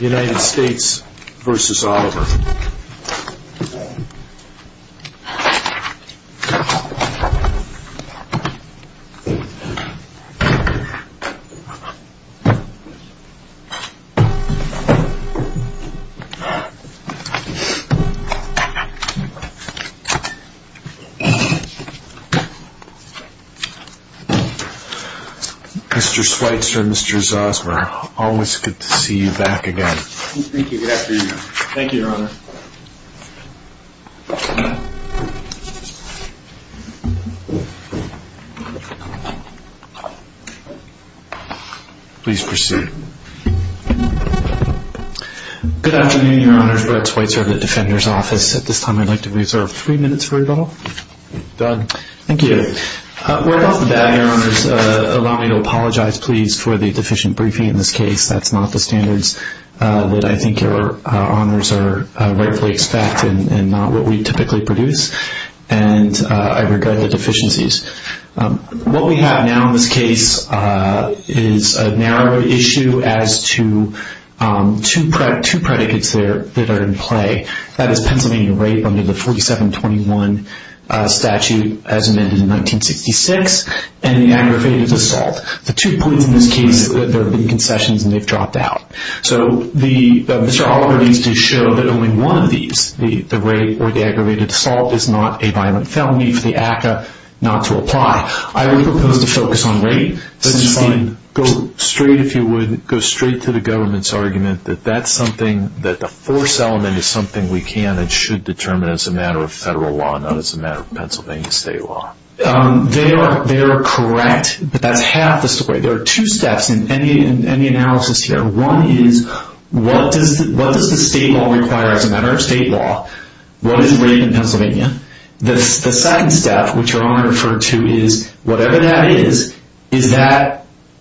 United States v. Oliver Mr. Schweitzer, Mr. Zosmer, always good to see you back again. Thank you. Good afternoon. Thank you, Your Honor. Please proceed. Good afternoon, Your Honors. Brett Schweitzer of the Defender's Office. At this time I'd like to reserve three minutes for rebuttal. Done. Thank you. We're about to beg, Your Honors. Allow me to apologize, please, for the deficient briefing in this case. That's not the standards that I think Your Honors are rightfully expecting and not what we typically produce. And I regret the deficiencies. What we have now in this case is a narrow issue as to two predicates that are in play. That is Pennsylvania rape under the 4721 statute as amended in 1966 and the aggravated assault. The two points in this case are that there have been concessions and they've dropped out. So Mr. Oliver needs to show that only one of these, the rape or the aggravated assault, is not a violent felony for the ACCA not to apply. Go straight, if you would, go straight to the government's argument that that's something that the force element is something we can and should determine as a matter of federal law, not as a matter of Pennsylvania state law. They are correct, but that's half the story. There are two steps in any analysis here. One is what does the state law require as a matter of state law? What is rape in Pennsylvania? The second step, which Your Honor referred to, is whatever that is, is that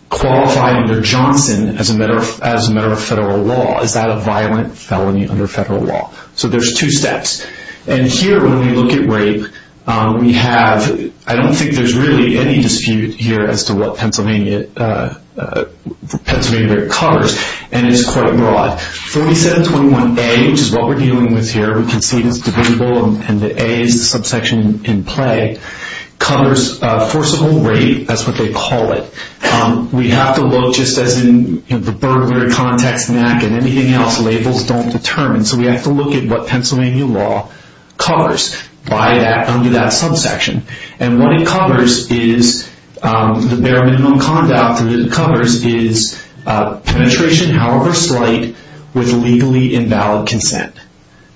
qualified under Johnson as a matter of federal law? Is that a violent felony under federal law? So there's two steps. And here when we look at rape, we have, I don't think there's really any dispute here as to what Pennsylvania rape covers, and it's quite broad. 4721A, which is what we're dealing with here, we can see it's debatable, and the A is the subsection in play, covers forcible rape. That's what they call it. We have to look, just as in the burglary context and anything else, labels don't determine. So we have to look at what Pennsylvania law covers by that, under that subsection. And what it covers is, the bare minimum conduct that it covers is penetration, however slight, with legally invalid consent.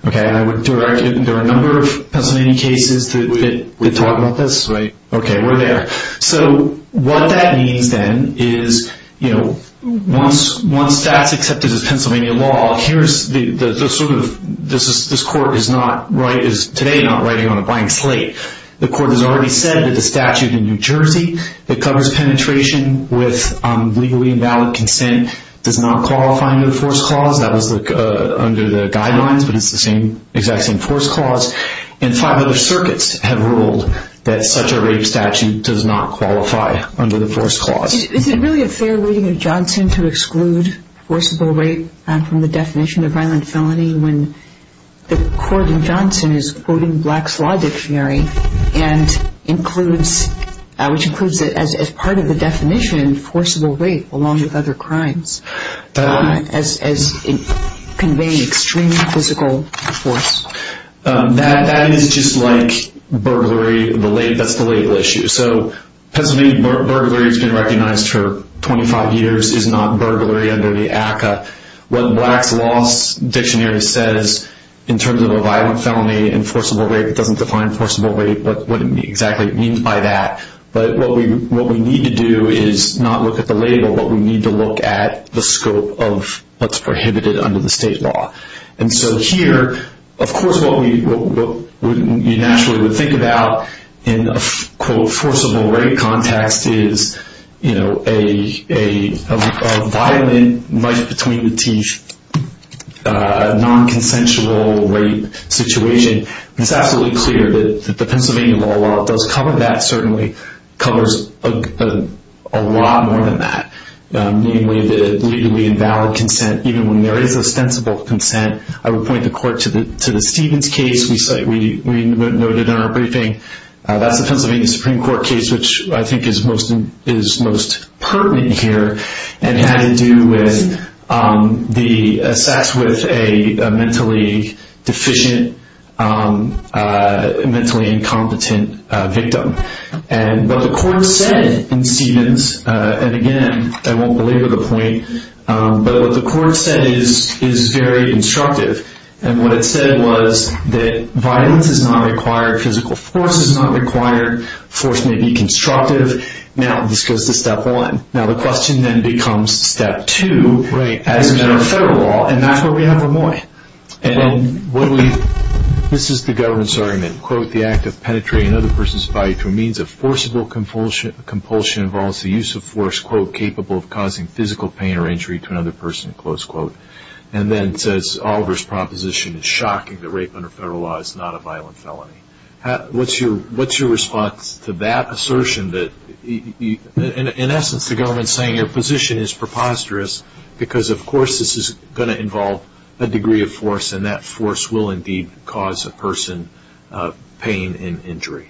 There are a number of Pennsylvania cases that talk about this. Okay, we're there. So what that means, then, is once that's accepted as Pennsylvania law, this Court is today not writing on a blank slate. The Court has already said that the statute in New Jersey that covers penetration with legally invalid consent does not qualify under the force clause. That was under the guidelines, but it's the exact same force clause. And five other circuits have ruled that such a rape statute does not qualify under the force clause. Is it really a fair reading of Johnson to exclude forcible rape from the definition of violent felony when the court in Johnson is quoting Black's Law Dictionary, which includes as part of the definition, forcible rape, along with other crimes, as conveying extreme physical force? That is just like burglary. That's the legal issue. So Pennsylvania burglary has been recognized for 25 years. It's not burglary under the ACCA. What Black's Law Dictionary says in terms of a violent felony and forcible rape, it doesn't define forcible rape, what exactly it means by that. But what we need to do is not look at the label, but we need to look at the scope of what's prohibited under the state law. And so here, of course, what you naturally would think about in a, quote, forcible rape context is, you know, a violent, knife-between-the-teeth, non-consensual rape situation. It's absolutely clear that the Pennsylvania law does cover that, certainly covers a lot more than that. Namely, the legally invalid consent, even when there is ostensible consent. I would point the court to the Stevens case. We noted in our briefing, that's the Pennsylvania Supreme Court case, which I think is most pertinent here, and had to do with the sex with a mentally deficient, mentally incompetent victim. And what the court said in Stevens, and again, I won't belabor the point, but what the court said is very instructive. And what it said was that violence is not required, physical force is not required, force may be constructive. Now, this goes to step one. Now, the question then becomes step two as a matter of federal law, and that's where we have Lemoyne. This is the government's argument. Quote, the act of penetrating another person's body through means of forcible compulsion involves the use of force, quote, capable of causing physical pain or injury to another person, close quote. And then it says, Oliver's proposition is shocking that rape under federal law is not a violent felony. What's your response to that assertion that, in essence, the government is saying your position is preposterous, because, of course, this is going to involve a degree of force, and that force will indeed cause a person pain and injury?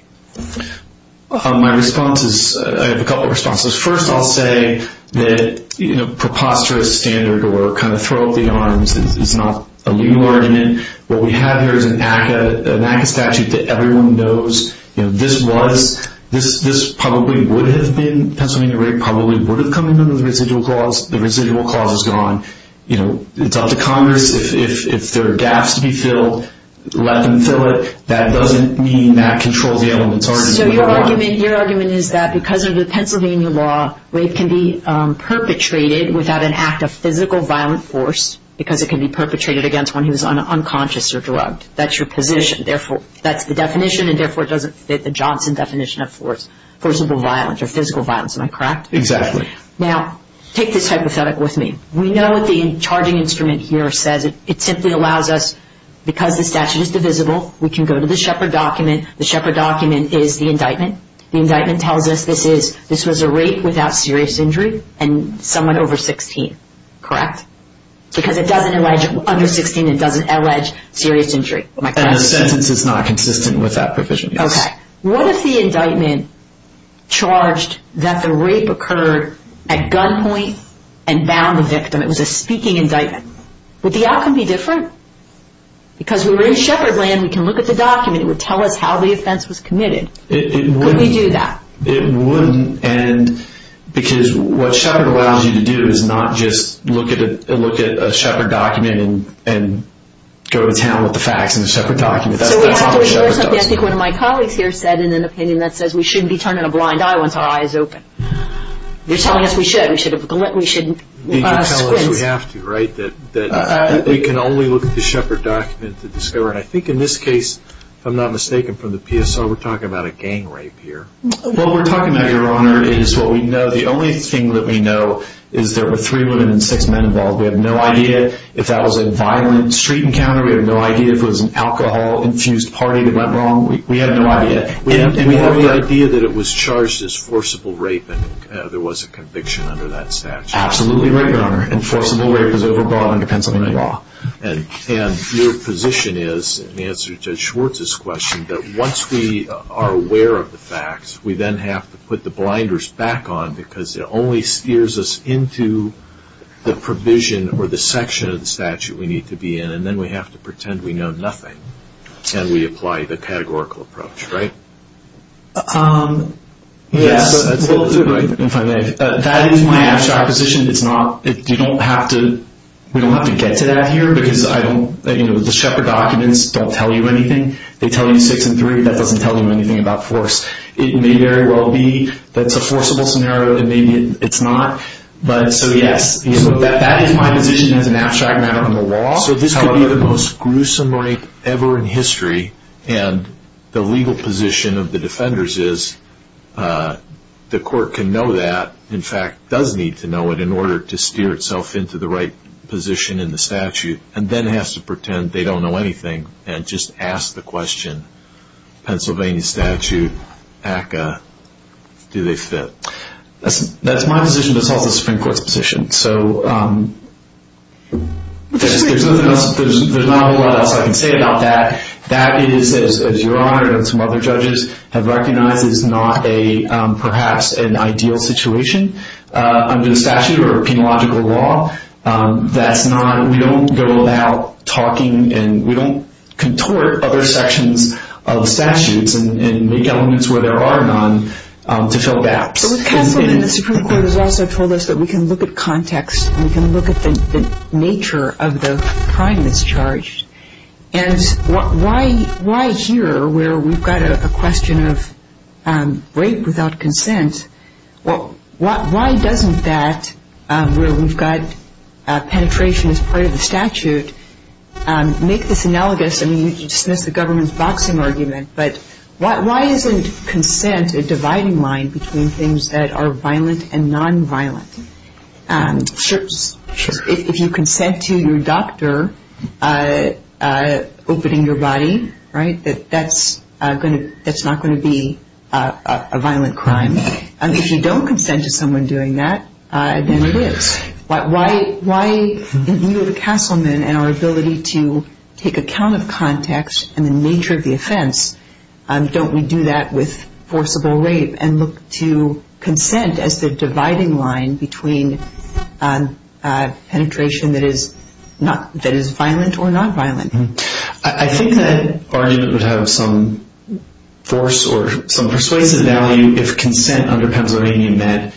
My response is, I have a couple of responses. First, I'll say that, you know, preposterous standard or kind of throw up the arms is not a legal argument. What we have here is an ACCA statute that everyone knows, you know, this was, this probably would have been, Pennsylvania rape probably would have come under the residual clause. The residual clause is gone. You know, it's up to Congress. If there are gaps to be filled, let them fill it. That doesn't mean that controls the element. So your argument is that because of the Pennsylvania law, rape can be perpetrated without an act of physical violent force, because it can be perpetrated against one who is unconscious or drugged. That's your position. Therefore, that's the definition, and therefore, it doesn't fit the Johnson definition of force, divisible violence or physical violence. Am I correct? Exactly. Now, take this hypothetic with me. We know what the charging instrument here says. It simply allows us, because the statute is divisible, we can go to the Shepard document. The Shepard document is the indictment. The indictment tells us this is, this was a rape without serious injury and someone over 16. Correct? Because it doesn't allege under 16, it doesn't allege serious injury. And the sentence is not consistent with that provision. Okay. What if the indictment charged that the rape occurred at gunpoint and bound the victim? It was a speaking indictment. Would the outcome be different? Because we were in Shepard land. We can look at the document. It would tell us how the offense was committed. It wouldn't. Couldn't we do that? It wouldn't, because what Shepard allows you to do is not just look at a Shepard document and go to town with the facts in the Shepard document. So we have to ignore something I think one of my colleagues here said in an opinion that says we shouldn't be turning a blind eye once our eye is open. They're telling us we should. We should squint. They can tell us we have to, right, that we can only look at the Shepard document to discover. And I think in this case, if I'm not mistaken from the PSO, we're talking about a gang rape here. What we're talking about, Your Honor, is what we know. The only thing that we know is there were three women and six men involved. We have no idea if that was a violent street encounter. We have no idea if it was an alcohol-infused party that went wrong. We have no idea. And we have the idea that it was charged as forcible rape and there was a conviction under that statute. Absolutely right, Your Honor, and forcible rape is overbought under Pennsylvania law. And your position is, in answer to Judge Schwartz's question, that once we are aware of the facts, we then have to put the blinders back on because it only steers us into the provision or the section of the statute we need to be in. And then we have to pretend we know nothing and we apply the categorical approach, right? Yes. That is my abstract position. We don't have to get to that here because the Shepard documents don't tell you anything. They tell you six and three. That doesn't tell you anything about force. It may very well be that it's a forcible scenario and maybe it's not. So, yes, that is my position as an abstract matter from the law. So this could be the most gruesome rape ever in history, and the legal position of the defenders is the court can know that, in fact, does need to know it in order to steer itself into the right position in the statute, and then has to pretend they don't know anything and just ask the question, Pennsylvania statute, ACCA, do they fit? That's my position, but it's also the Supreme Court's position. So there's not a lot else I can say about that. That is, as Your Honor and some other judges have recognized, is not perhaps an ideal situation under the statute or a penological law. We don't go about talking and we don't contort other sections of the statutes and make elements where there are none to fill gaps. But with Castleman, the Supreme Court has also told us that we can look at context and we can look at the nature of the crime that's charged. And why here, where we've got a question of rape without consent, why doesn't that, where we've got penetration as part of the statute, make this analogous? I mean, you dismissed the government's boxing argument, but why isn't consent a dividing line between things that are violent and nonviolent? If you consent to your doctor opening your body, right, that's not going to be a violent crime. If you don't consent to someone doing that, then it is. Why, in view of Castleman and our ability to take account of context and the nature of the offense, don't we do that with forcible rape and look to consent as the dividing line between penetration that is violent or nonviolent? I think that argument would have some force or some persuasive value if consent under Pennsylvania meant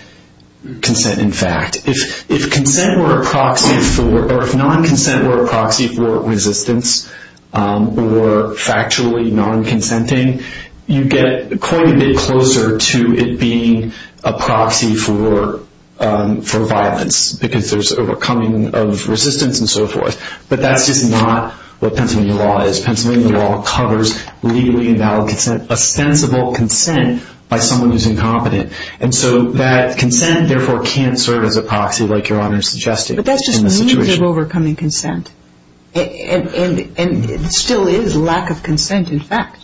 consent in fact. If consent were a proxy for, or if non-consent were a proxy for resistance or factually non-consenting, you get quite a bit closer to it being a proxy for violence because there's overcoming of resistance and so forth. But that's just not what Pennsylvania law is. Pennsylvania law covers legally invalid consent, a sensible consent by someone who's incompetent. And so that consent, therefore, can't serve as a proxy like Your Honor is suggesting. But that's just means of overcoming consent. And it still is lack of consent in fact.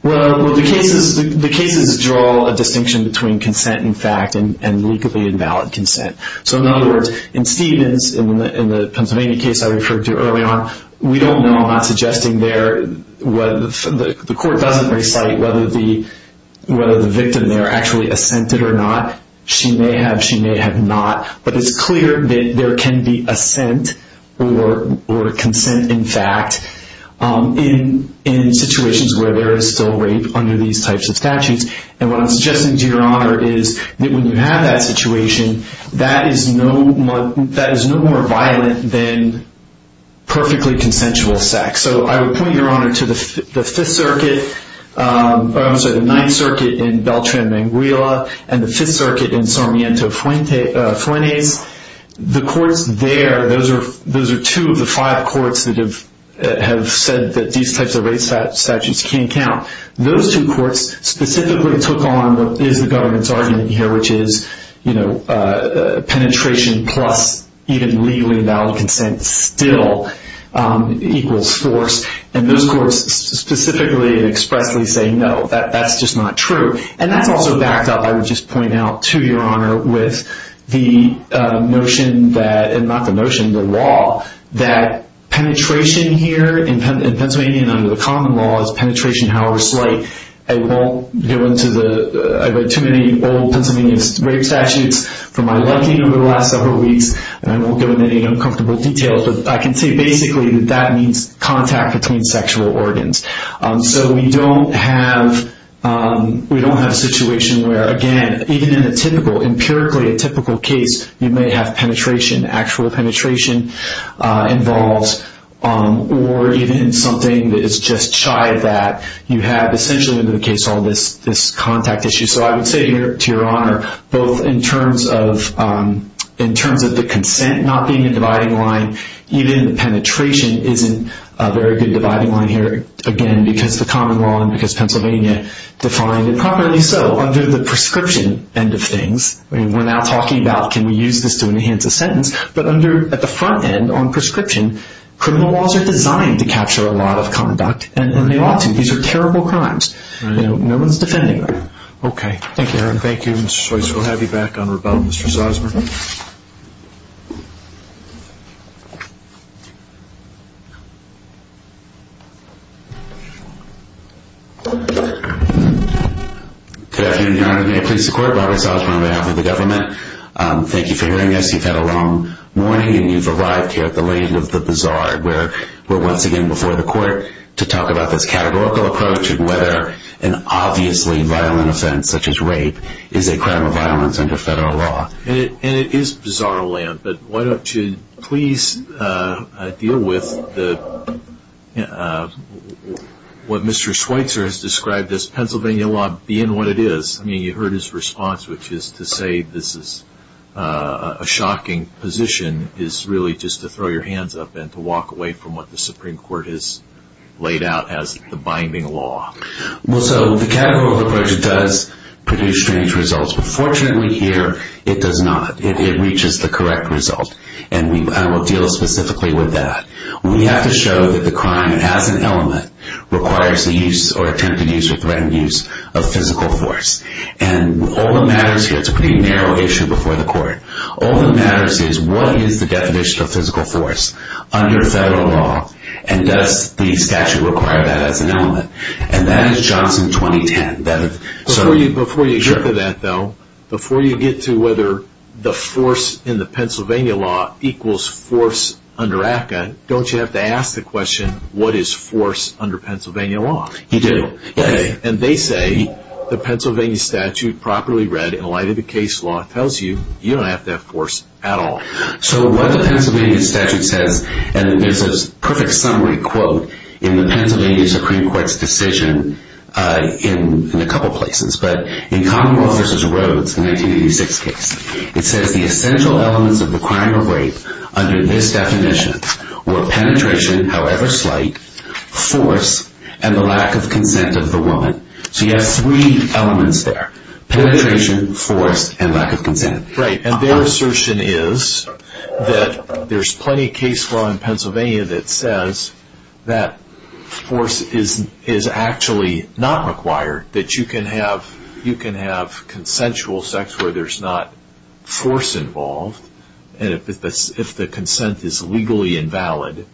Well, the cases draw a distinction between consent in fact and legally invalid consent. So in other words, in Stevens, in the Pennsylvania case I referred to earlier on, we don't know, I'm not suggesting there, the court doesn't recite whether the victim there was actually assented or not. She may have, she may have not. But it's clear that there can be assent or consent in fact in situations where there is still rape under these types of statutes. And what I'm suggesting to Your Honor is that when you have that situation, that is no more violent than perfectly consensual sex. So I would point Your Honor to the Fifth Circuit, or I'm sorry, the Ninth Circuit in Beltran-Manguila and the Fifth Circuit in Sarmiento-Fuentes. The courts there, those are two of the five courts that have said that these types of rape statutes can count. Those two courts specifically took on what is the government's argument here, which is penetration plus even legally invalid consent still equals force. And those courts specifically and expressly say no, that's just not true. And that's also backed up, I would just point out to Your Honor, with the notion that, not the notion, the law, that penetration here in Pennsylvania under the common law is penetration however slight. I won't go into the, I've read too many old Pennsylvania rape statutes from my life over the last several weeks, and I won't go into any uncomfortable details. But I can say basically that that means contact between sexual organs. So we don't have a situation where, again, even in a typical, empirically a typical case, you may have penetration, actual penetration involved, or even something that is just shy of that. You have essentially under the case law this contact issue. So I would say here to Your Honor, both in terms of the consent not being a dividing line, even the penetration isn't a very good dividing line here, again, because the common law and because Pennsylvania defined it properly so. Under the prescription end of things, we're now talking about can we use this to enhance a sentence, but under at the front end on prescription, criminal laws are designed to capture a lot of conduct, and they ought to. These are terrible crimes. No one's defending them. Thank you, Your Honor. Thank you, Mr. Choice. We'll have you back on rebuttal, Mr. Salzman. Good afternoon, Your Honor. May it please the Court, Robert Salzman on behalf of the government. Thank you for hearing us. You've had a long morning, and you've arrived here at the lane of the bazaar, where we're once again before the Court to talk about this categorical approach and whether an obviously violent offense such as rape is a crime of violence under federal law. And it is bizarre land, but why don't you please deal with what Mr. Schweitzer has described as Pennsylvania law being what it is. I mean, you heard his response, which is to say this is a shocking position is really just to throw your hands up and to walk away from what the Supreme Court has laid out as the binding law. Well, so the categorical approach does produce strange results, but fortunately here it does not. It reaches the correct result, and I will deal specifically with that. We have to show that the crime as an element requires the use or attempted use or threatened use of physical force. And all that matters here, it's a pretty narrow issue before the Court, all that matters is what is the definition of physical force under federal law, and does the statute require that as an element. And that is Johnson 2010. Before you get to that, though, before you get to whether the force in the Pennsylvania law equals force under ACCA, don't you have to ask the question, what is force under Pennsylvania law? You do. And they say the Pennsylvania statute properly read in light of the case law tells you you don't have to have force at all. So what the Pennsylvania statute says, and there's a perfect summary quote in the Pennsylvania Supreme Court's decision in a couple places, but in Commonwealth v. Rhodes, the 1986 case, it says, the essential elements of the crime of rape under this definition were penetration, however slight, force, and the lack of consent of the woman. So you have three elements there, penetration, force, and lack of consent. Right. And their assertion is that there's plenty of case law in Pennsylvania that says that force is actually not required, that you can have consensual sex where there's not force involved, and if the consent is legally invalid,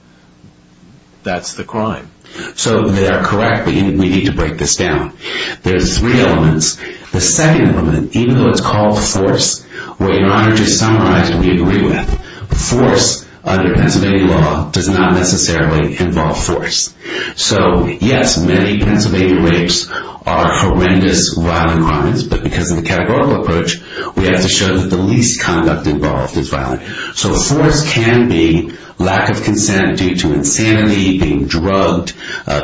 that's the crime. So they are correct. We need to break this down. There's three elements. The second element, even though it's called force, in order to summarize what we agree with, force under Pennsylvania law does not necessarily involve force. So, yes, many Pennsylvania rapes are horrendous violent crimes, but because of the categorical approach, we have to show that the least conduct involved is violent. So force can be lack of consent due to insanity, being drugged,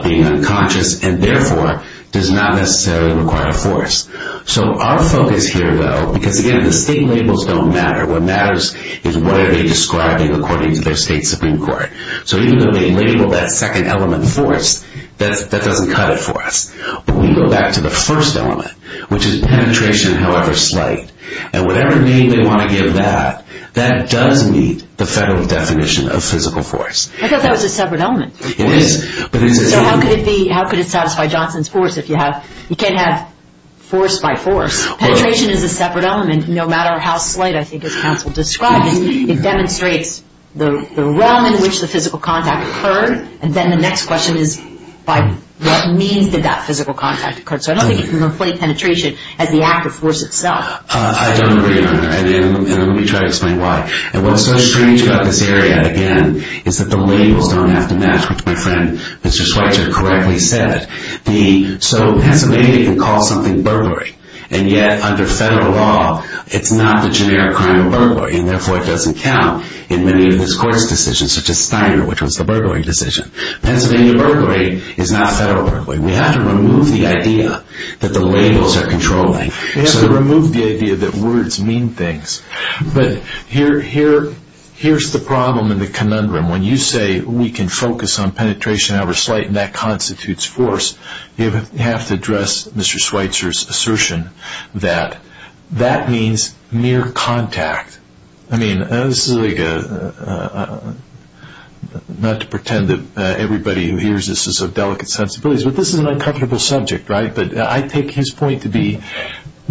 being unconscious, and therefore does not necessarily require force. So our focus here, though, because, again, the state labels don't matter. What matters is what are they describing according to their state Supreme Court. So even though they label that second element force, that doesn't cut it for us. But we go back to the first element, which is penetration, however slight, and whatever name they want to give that, that does meet the federal definition of physical force. I thought that was a separate element. It is. So how could it satisfy Johnson's force if you can't have force by force? Penetration is a separate element no matter how slight, I think, as counsel describes. It demonstrates the realm in which the physical contact occurred, and then the next question is by what means did that physical contact occur. So I don't think you can replace penetration as the act of force itself. I don't agree on that, and let me try to explain why. And what's so strange about this area, again, is that the labels don't have to match, which my friend Mr. Schweitzer correctly said. So Pennsylvania can call something burglary, and yet under federal law it's not the generic crime of burglary, and therefore it doesn't count in many of this court's decisions, such as Steiner, which was the burglary decision. Pennsylvania burglary is not federal burglary. We have to remove the idea that the labels are controlling. We have to remove the idea that words mean things. But here's the problem and the conundrum. When you say we can focus on penetration however slight and that constitutes force, you have to address Mr. Schweitzer's assertion that that means mere contact. I mean, this is like a, not to pretend that everybody who hears this is of delicate sensibilities, but this is an uncomfortable subject, right? But I take his point to be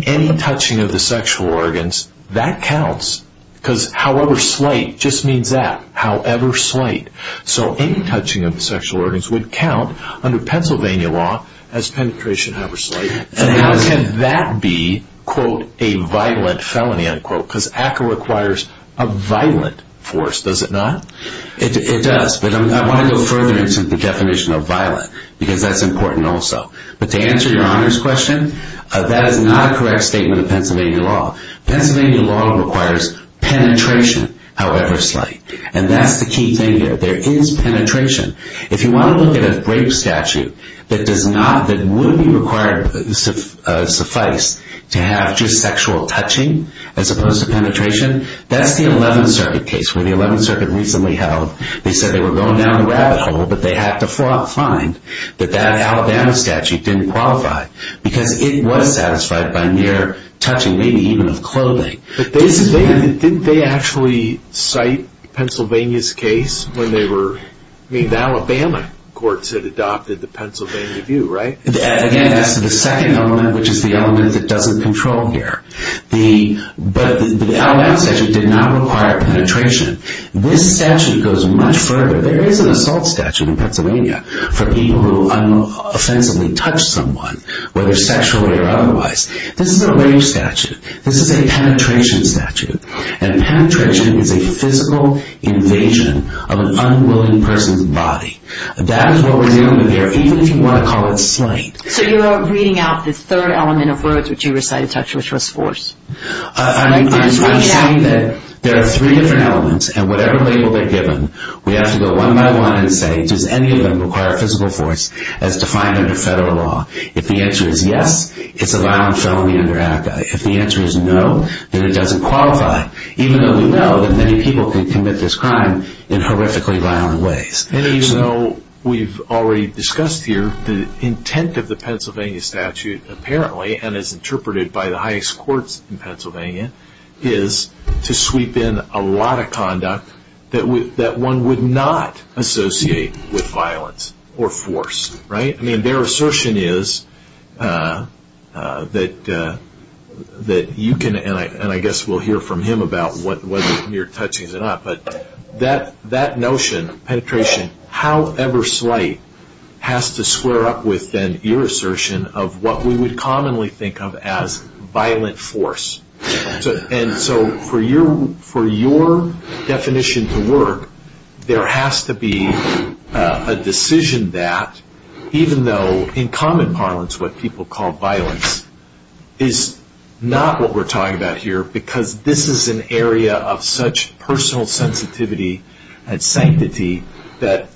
any touching of the sexual organs, that counts, because however slight just means that, however slight. So any touching of the sexual organs would count under Pennsylvania law as penetration however slight. And how can that be, quote, a violent felony, unquote? Because ACCA requires a violent force, does it not? It does, but I want to go further into the definition of violent, because that's important also. But to answer your Honor's question, that is not a correct statement of Pennsylvania law. Pennsylvania law requires penetration however slight. And that's the key thing here. There is penetration. If you want to look at a rape statute that does not, that would be required, suffice, to have just sexual touching as opposed to penetration, that's the 11th Circuit case, where the 11th Circuit recently held, they said they were going down the rabbit hole, but they had to find that that Alabama statute didn't qualify, because it was satisfied by mere touching, maybe even of clothing. But didn't they actually cite Pennsylvania's case when they were, I mean the Alabama courts had adopted the Pennsylvania view, right? Again, that's the second element, which is the element that doesn't control here. But the Alabama statute did not require penetration. This statute goes much further. There is an assault statute in Pennsylvania for people who unoffensively touch someone, whether sexually or otherwise. This is a rape statute. This is a penetration statute. And penetration is a physical invasion of an unwilling person's body. That is what was the element there, even if you want to call it slight. So you are reading out the third element of words which you recited, touch, which was force. I'm saying that there are three different elements, and whatever label they're given, we have to go one by one and say, does any of them require physical force, as defined under federal law? If the answer is yes, it's a violent felony under ACCA. If the answer is no, then it doesn't qualify, even though we know that many people can commit this crime in horrifically violent ways. And even though we've already discussed here, the intent of the Pennsylvania statute, apparently, and is interpreted by the highest courts in Pennsylvania, is to sweep in a lot of conduct that one would not associate with violence or force, right? I mean, their assertion is that you can, and I guess we'll hear from him about whether you're touching it or not, but that notion, penetration, however slight, has to square up with then your assertion of what we would commonly think of as violent force. And so for your definition to work, there has to be a decision that, even though in common parlance what people call violence is not what we're talking about here, because this is an area of such personal sensitivity and sanctity that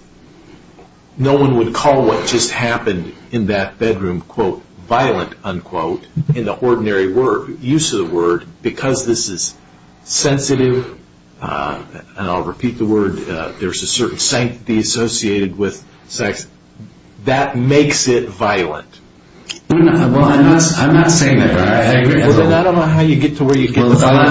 no one would call what just happened in that bedroom, quote, violent, unquote, in the ordinary use of the word, because this is sensitive, and I'll repeat the word, there's a certain sanctity associated with sex, that makes it violent. Well, I'm not saying that, but I agree. Well, then I don't know how you get to where you get to. I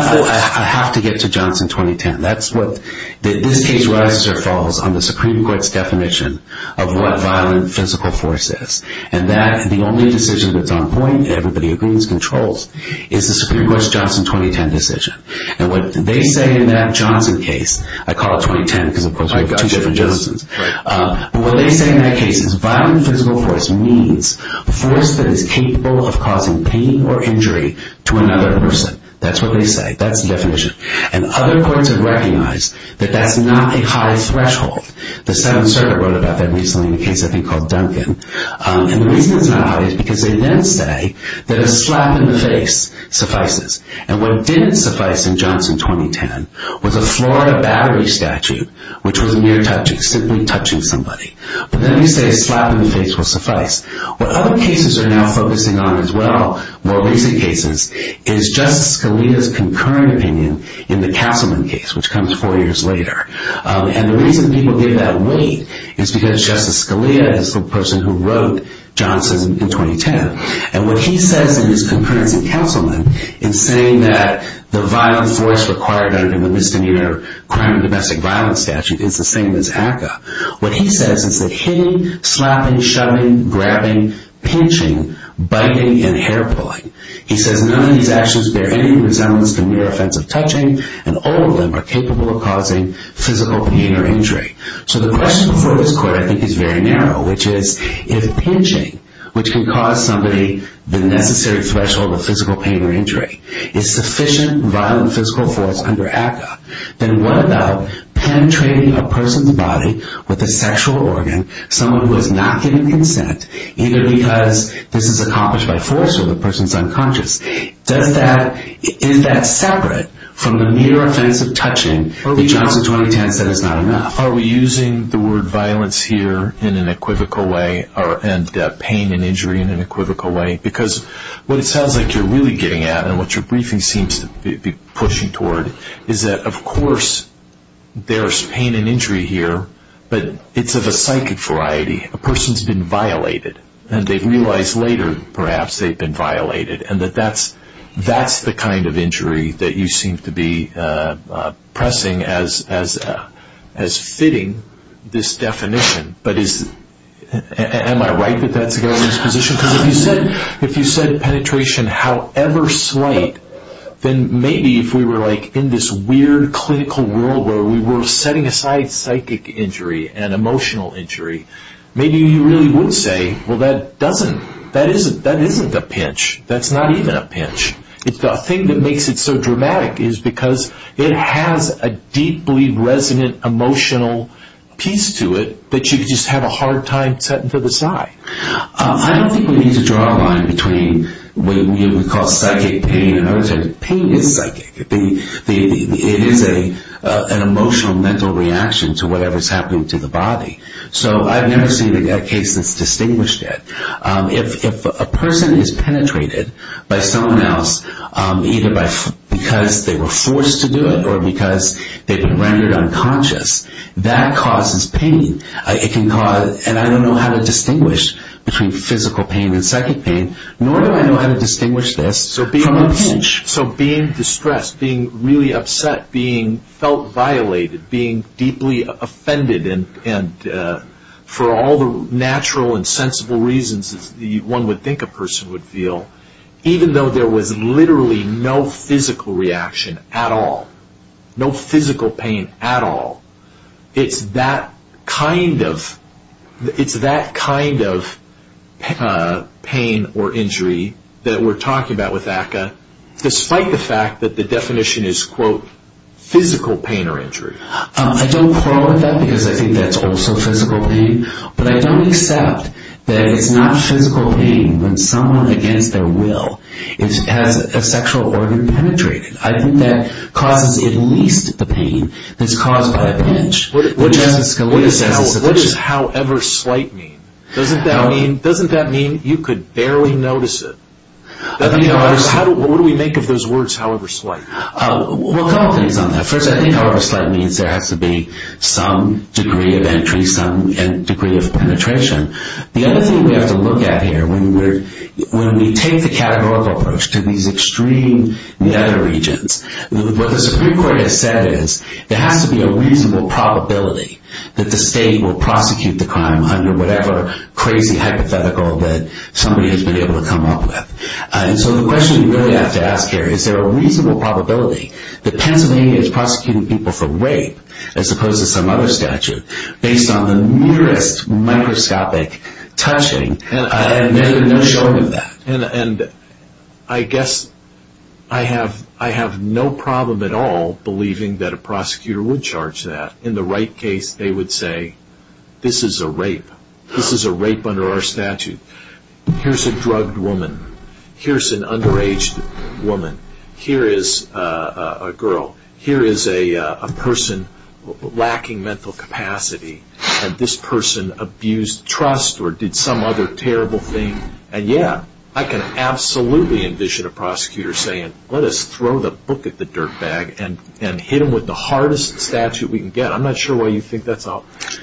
have to get to Johnson 2010. That's what, this case rises or falls on the Supreme Court's definition of what violent physical force is. And that's the only decision that's on point, everybody agrees, controls, is the Supreme Court's Johnson 2010 decision. And what they say in that Johnson case, I call it 2010 because, of course, we have two different Judges, but what they say in that case is violent physical force means force that is capable of causing pain or injury to another person. That's what they say. That's the definition. And other courts have recognized that that's not a high threshold. The 7th Circuit wrote about that recently in a case, I think, called Duncan. And the reason it's not high is because they then say that a slap in the face suffices. And what didn't suffice in Johnson 2010 was a Florida battery statute, which was a mere touch, simply touching somebody. But then they say a slap in the face will suffice. What other cases are now focusing on as well, more recent cases, is Justice Scalia's concurrent opinion in the Castleman case, which comes four years later. And the reason people give that weight is because Justice Scalia is the person who wrote Johnson in 2010. And what he says in his concurrence in Castleman in saying that the violent force required under the misdemeanor crime and domestic violence statute is the same as ACCA, what he says is that hitting, slapping, shoving, grabbing, pinching, biting, and hair-pulling, he says none of these actions bear any resemblance to mere offensive touching, and all of them are capable of causing physical pain or injury. So the question before this court, I think, is very narrow, which is, if pinching, which can cause somebody the necessary threshold of physical pain or injury, is sufficient violent physical force under ACCA, then what about penetrating a person's body with a sexual organ, someone who has not given consent, either because this is accomplished by force or the person's unconscious, is that separate from the mere offensive touching that Johnson 2010 said is not enough? Are we using the word violence here in an equivocal way and pain and injury in an equivocal way? Because what it sounds like you're really getting at and what your briefing seems to be pushing toward is that, of course, there's pain and injury here, but it's of a psychic variety. A person's been violated, and they realize later, perhaps, they've been violated, and that that's the kind of injury that you seem to be pressing as fitting this definition. But am I right that that's the government's position? Because if you said penetration, however slight, then maybe if we were in this weird clinical world where we were setting aside psychic injury and emotional injury, maybe you really would say, Well, that doesn't, that isn't, that isn't the pinch. That's not even a pinch. The thing that makes it so dramatic is because it has a deeply resonant emotional piece to it that you could just have a hard time setting to the side. I don't think we need to draw a line between what we would call psychic pain and other things. Pain is psychic. It is an emotional mental reaction to whatever's happening to the body. So I've never seen a case that's distinguished it. If a person is penetrated by someone else, either because they were forced to do it or because they've been rendered unconscious, that causes pain. It can cause, and I don't know how to distinguish between physical pain and psychic pain, nor do I know how to distinguish this from a pinch. So being distressed, being really upset, being felt violated, being deeply offended, and for all the natural and sensible reasons one would think a person would feel, even though there was literally no physical reaction at all, no physical pain at all, it's that kind of, it's that kind of pain or injury that we're talking about with ACCA, despite the fact that the definition is, quote, physical pain or injury. I don't quarrel with that because I think that's also physical pain, but I don't accept that it's not physical pain when someone against their will has a sexual organ penetrated. I think that causes at least the pain that's caused by a pinch. What does however slight mean? Doesn't that mean you could barely notice it? What do we make of those words, however slight? Well, a couple things on that. First, I think however slight means there has to be some degree of entry, some degree of penetration. The other thing we have to look at here, when we take the categorical approach to these extreme meta-regions, what the Supreme Court has said is there has to be a reasonable probability that the state will prosecute the crime under whatever crazy hypothetical that somebody has been able to come up with. And so the question we really have to ask here, is there a reasonable probability that Pennsylvania is prosecuting people for rape, as opposed to some other statute, based on the nearest microscopic touching and there's no showing of that? And I guess I have no problem at all believing that a prosecutor would charge that. In the right case, they would say, this is a rape. This is a rape under our statute. Here's a drugged woman. Here's an underaged woman. Here is a girl. Here is a person lacking mental capacity, and this person abused trust or did some other terrible thing. And yeah, I can absolutely envision a prosecutor saying, let us throw the book at the dirt bag and hit them with the hardest statute we can get. I'm not sure why you think that's a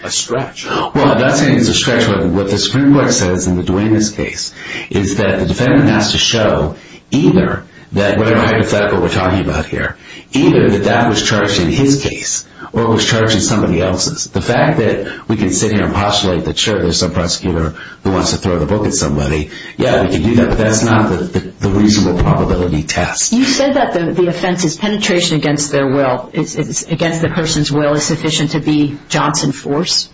stretch. Well, I'm not saying it's a stretch. What the Supreme Court says in the Duenas case is that the defendant has to show either that, whatever hypothetical we're talking about here, either that that was charged in his case or it was charged in somebody else's. The fact that we can sit here and postulate that, sure, there's some prosecutor who wants to throw the book at somebody, yeah, we can do that, but that's not the reasonable probability test. You said that the offense is penetration against their will. It's against the person's will is sufficient to be Johnson force.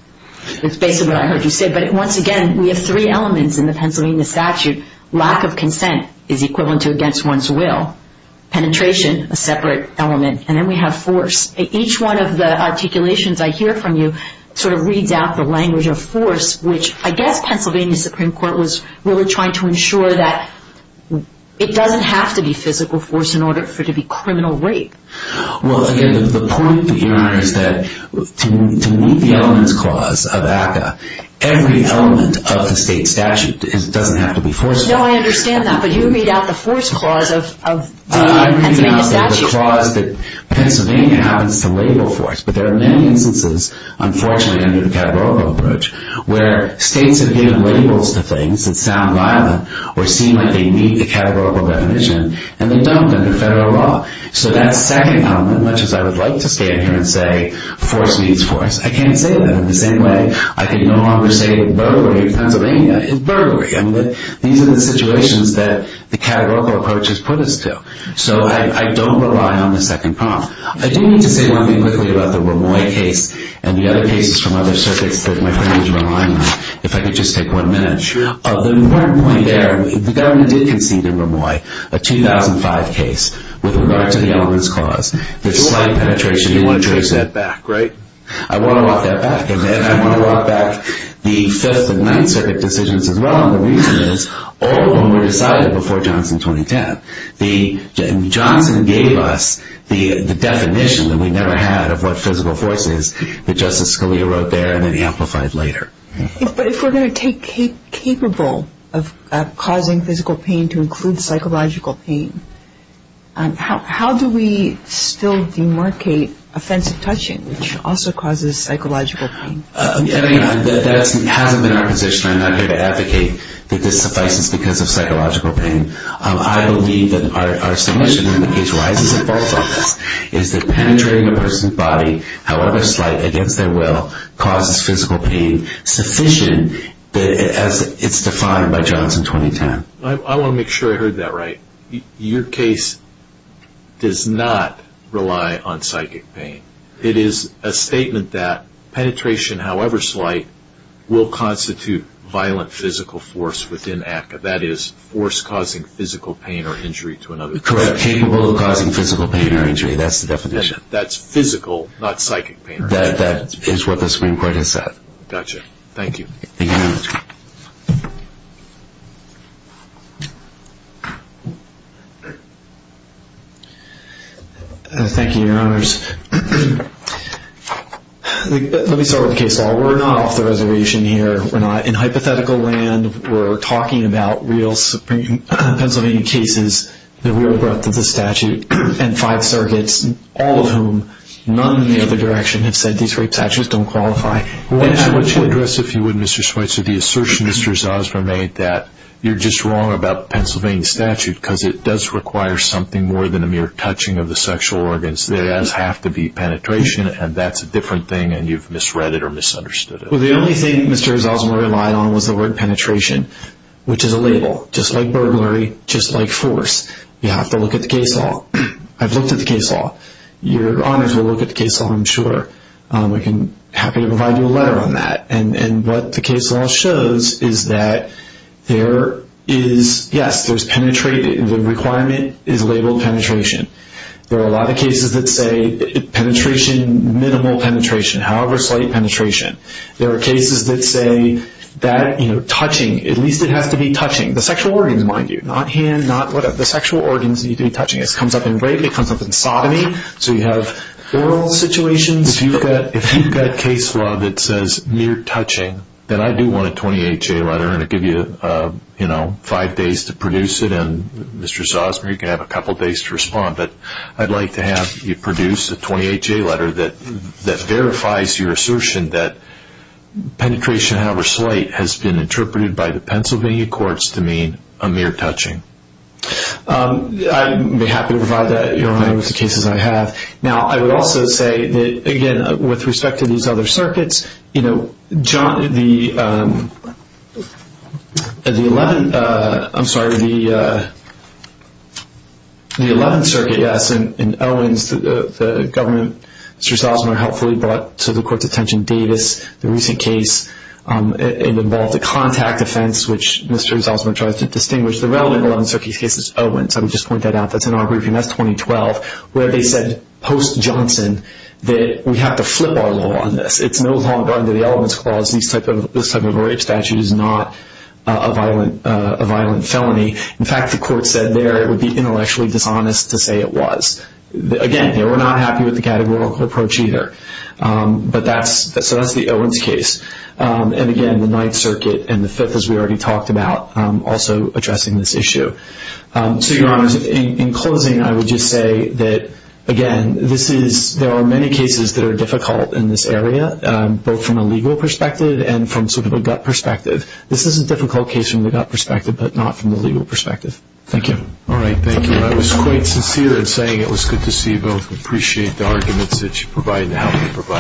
That's basically what I heard you say. But once again, we have three elements in the Pennsylvania statute. Lack of consent is equivalent to against one's will. Penetration, a separate element. And then we have force. Each one of the articulations I hear from you sort of reads out the language of force, which I guess Pennsylvania Supreme Court was really trying to ensure that it doesn't have to be physical force in order for it to be criminal rape. Well, again, the point, Your Honor, is that to meet the elements clause of ACCA, every element of the state statute doesn't have to be forceful. No, I understand that. But you read out the force clause of the Pennsylvania statute. I read out the clause that Pennsylvania happens to label force. But there are many instances, unfortunately, under the categorical approach, where states have given labels to things that sound violent or seem like they meet the categorical definition, and they don't under federal law. So that second element, much as I would like to stand here and say force meets force, I can't say that. In the same way, I can no longer say burglary of Pennsylvania is burglary. These are the situations that the categorical approach has put us to. So I don't rely on the second prompt. I do need to say one thing quickly about the Ramoy case and the other cases from other circuits that my friend would rely on, if I could just take one minute. The important point there, the government did concede in Ramoy a 2005 case with regard to the elements clause. There's slight penetration. You want to trace that back, right? I want to walk that back. And then I want to walk back the Fifth and Ninth Circuit decisions as well. And the reason is all of them were decided before Johnson 2010. Johnson gave us the definition that we never had of what physical force is that Justice Scalia wrote there and then amplified later. But if we're going to take capable of causing physical pain to include psychological pain, how do we still demarcate offensive touching, which also causes psychological pain? That hasn't been our position. I'm not here to advocate that this suffices because of psychological pain. I believe that our submission in the case rises and falls on this, is that penetrating a person's body, however slight, against their will, causes physical pain sufficient as it's defined by Johnson 2010. I want to make sure I heard that right. Your case does not rely on psychic pain. It is a statement that penetration, however slight, will constitute violent physical force within ACCA. That is, force causing physical pain or injury to another person. Correct. Capable of causing physical pain or injury. That's the definition. That's physical, not psychic pain or injury. That is what the Supreme Court has said. Gotcha. Thank you. Thank you. Thank you, Your Honors. Let me start with the case law. We're not off the reservation here. We're not in hypothetical land. We're talking about real Pennsylvania cases, the real breadth of the statute, and five circuits, all of whom, none in the other direction, have said these rape statutes don't qualify. I want to address, if you would, Mr. Schweitzer, the assertion Mr. Zasma made that you're just wrong about Pennsylvania statute because it does require something more than a mere touching of the sexual organs. There does have to be penetration, and that's a different thing, and you've misread it or misunderstood it. Well, the only thing Mr. Zasma relied on was the word penetration, which is a label, just like burglary, just like force. You have to look at the case law. I've looked at the case law. Your Honors will look at the case law, I'm sure. I'm happy to provide you a letter on that. And what the case law shows is that there is, yes, there's penetration. The requirement is labeled penetration. There are a lot of cases that say penetration, minimal penetration, however slight penetration. There are cases that say that touching, at least it has to be touching. The sexual organs, mind you, not hand, not whatever, the sexual organs need to be touching. This comes up in rape. It comes up in sodomy. So you have oral situations. If you've got a case law that says mere touching, then I do want a 20HA letter, and I'll give you five days to produce it, and Mr. Zasma, you can have a couple days to respond. But I'd like to have you produce a 20HA letter that verifies your assertion that penetration, however slight, has been interpreted by the Pennsylvania courts to mean a mere touching. I'd be happy to provide that, Your Honor, with the cases I have. Now, I would also say that, again, with respect to these other circuits, you know, the 11th Circuit, yes, and Owens, the government, Mr. Zasma helpfully brought to the court's attention Davis, the recent case. It involved a contact offense, which Mr. Zasma tries to distinguish. The relevant 11th Circuit case is Owens. I would just point that out. That's in our briefing. That's 2012, where they said post-Johnson that we have to flip our law on this. It's no longer under the elements clause. This type of rape statute is not a violent felony. In fact, the court said there it would be intellectually dishonest to say it was. Again, they were not happy with the categorical approach either. So that's the Owens case. And, again, the 9th Circuit and the 5th, as we already talked about, also addressing this issue. So, Your Honors, in closing, I would just say that, again, there are many cases that are difficult in this area, both from a legal perspective and from sort of a gut perspective. This is a difficult case from the gut perspective, but not from the legal perspective. Thank you. All right, thank you. I was quite sincere in saying it was good to see both. We appreciate the arguments that you provided and the help you provided.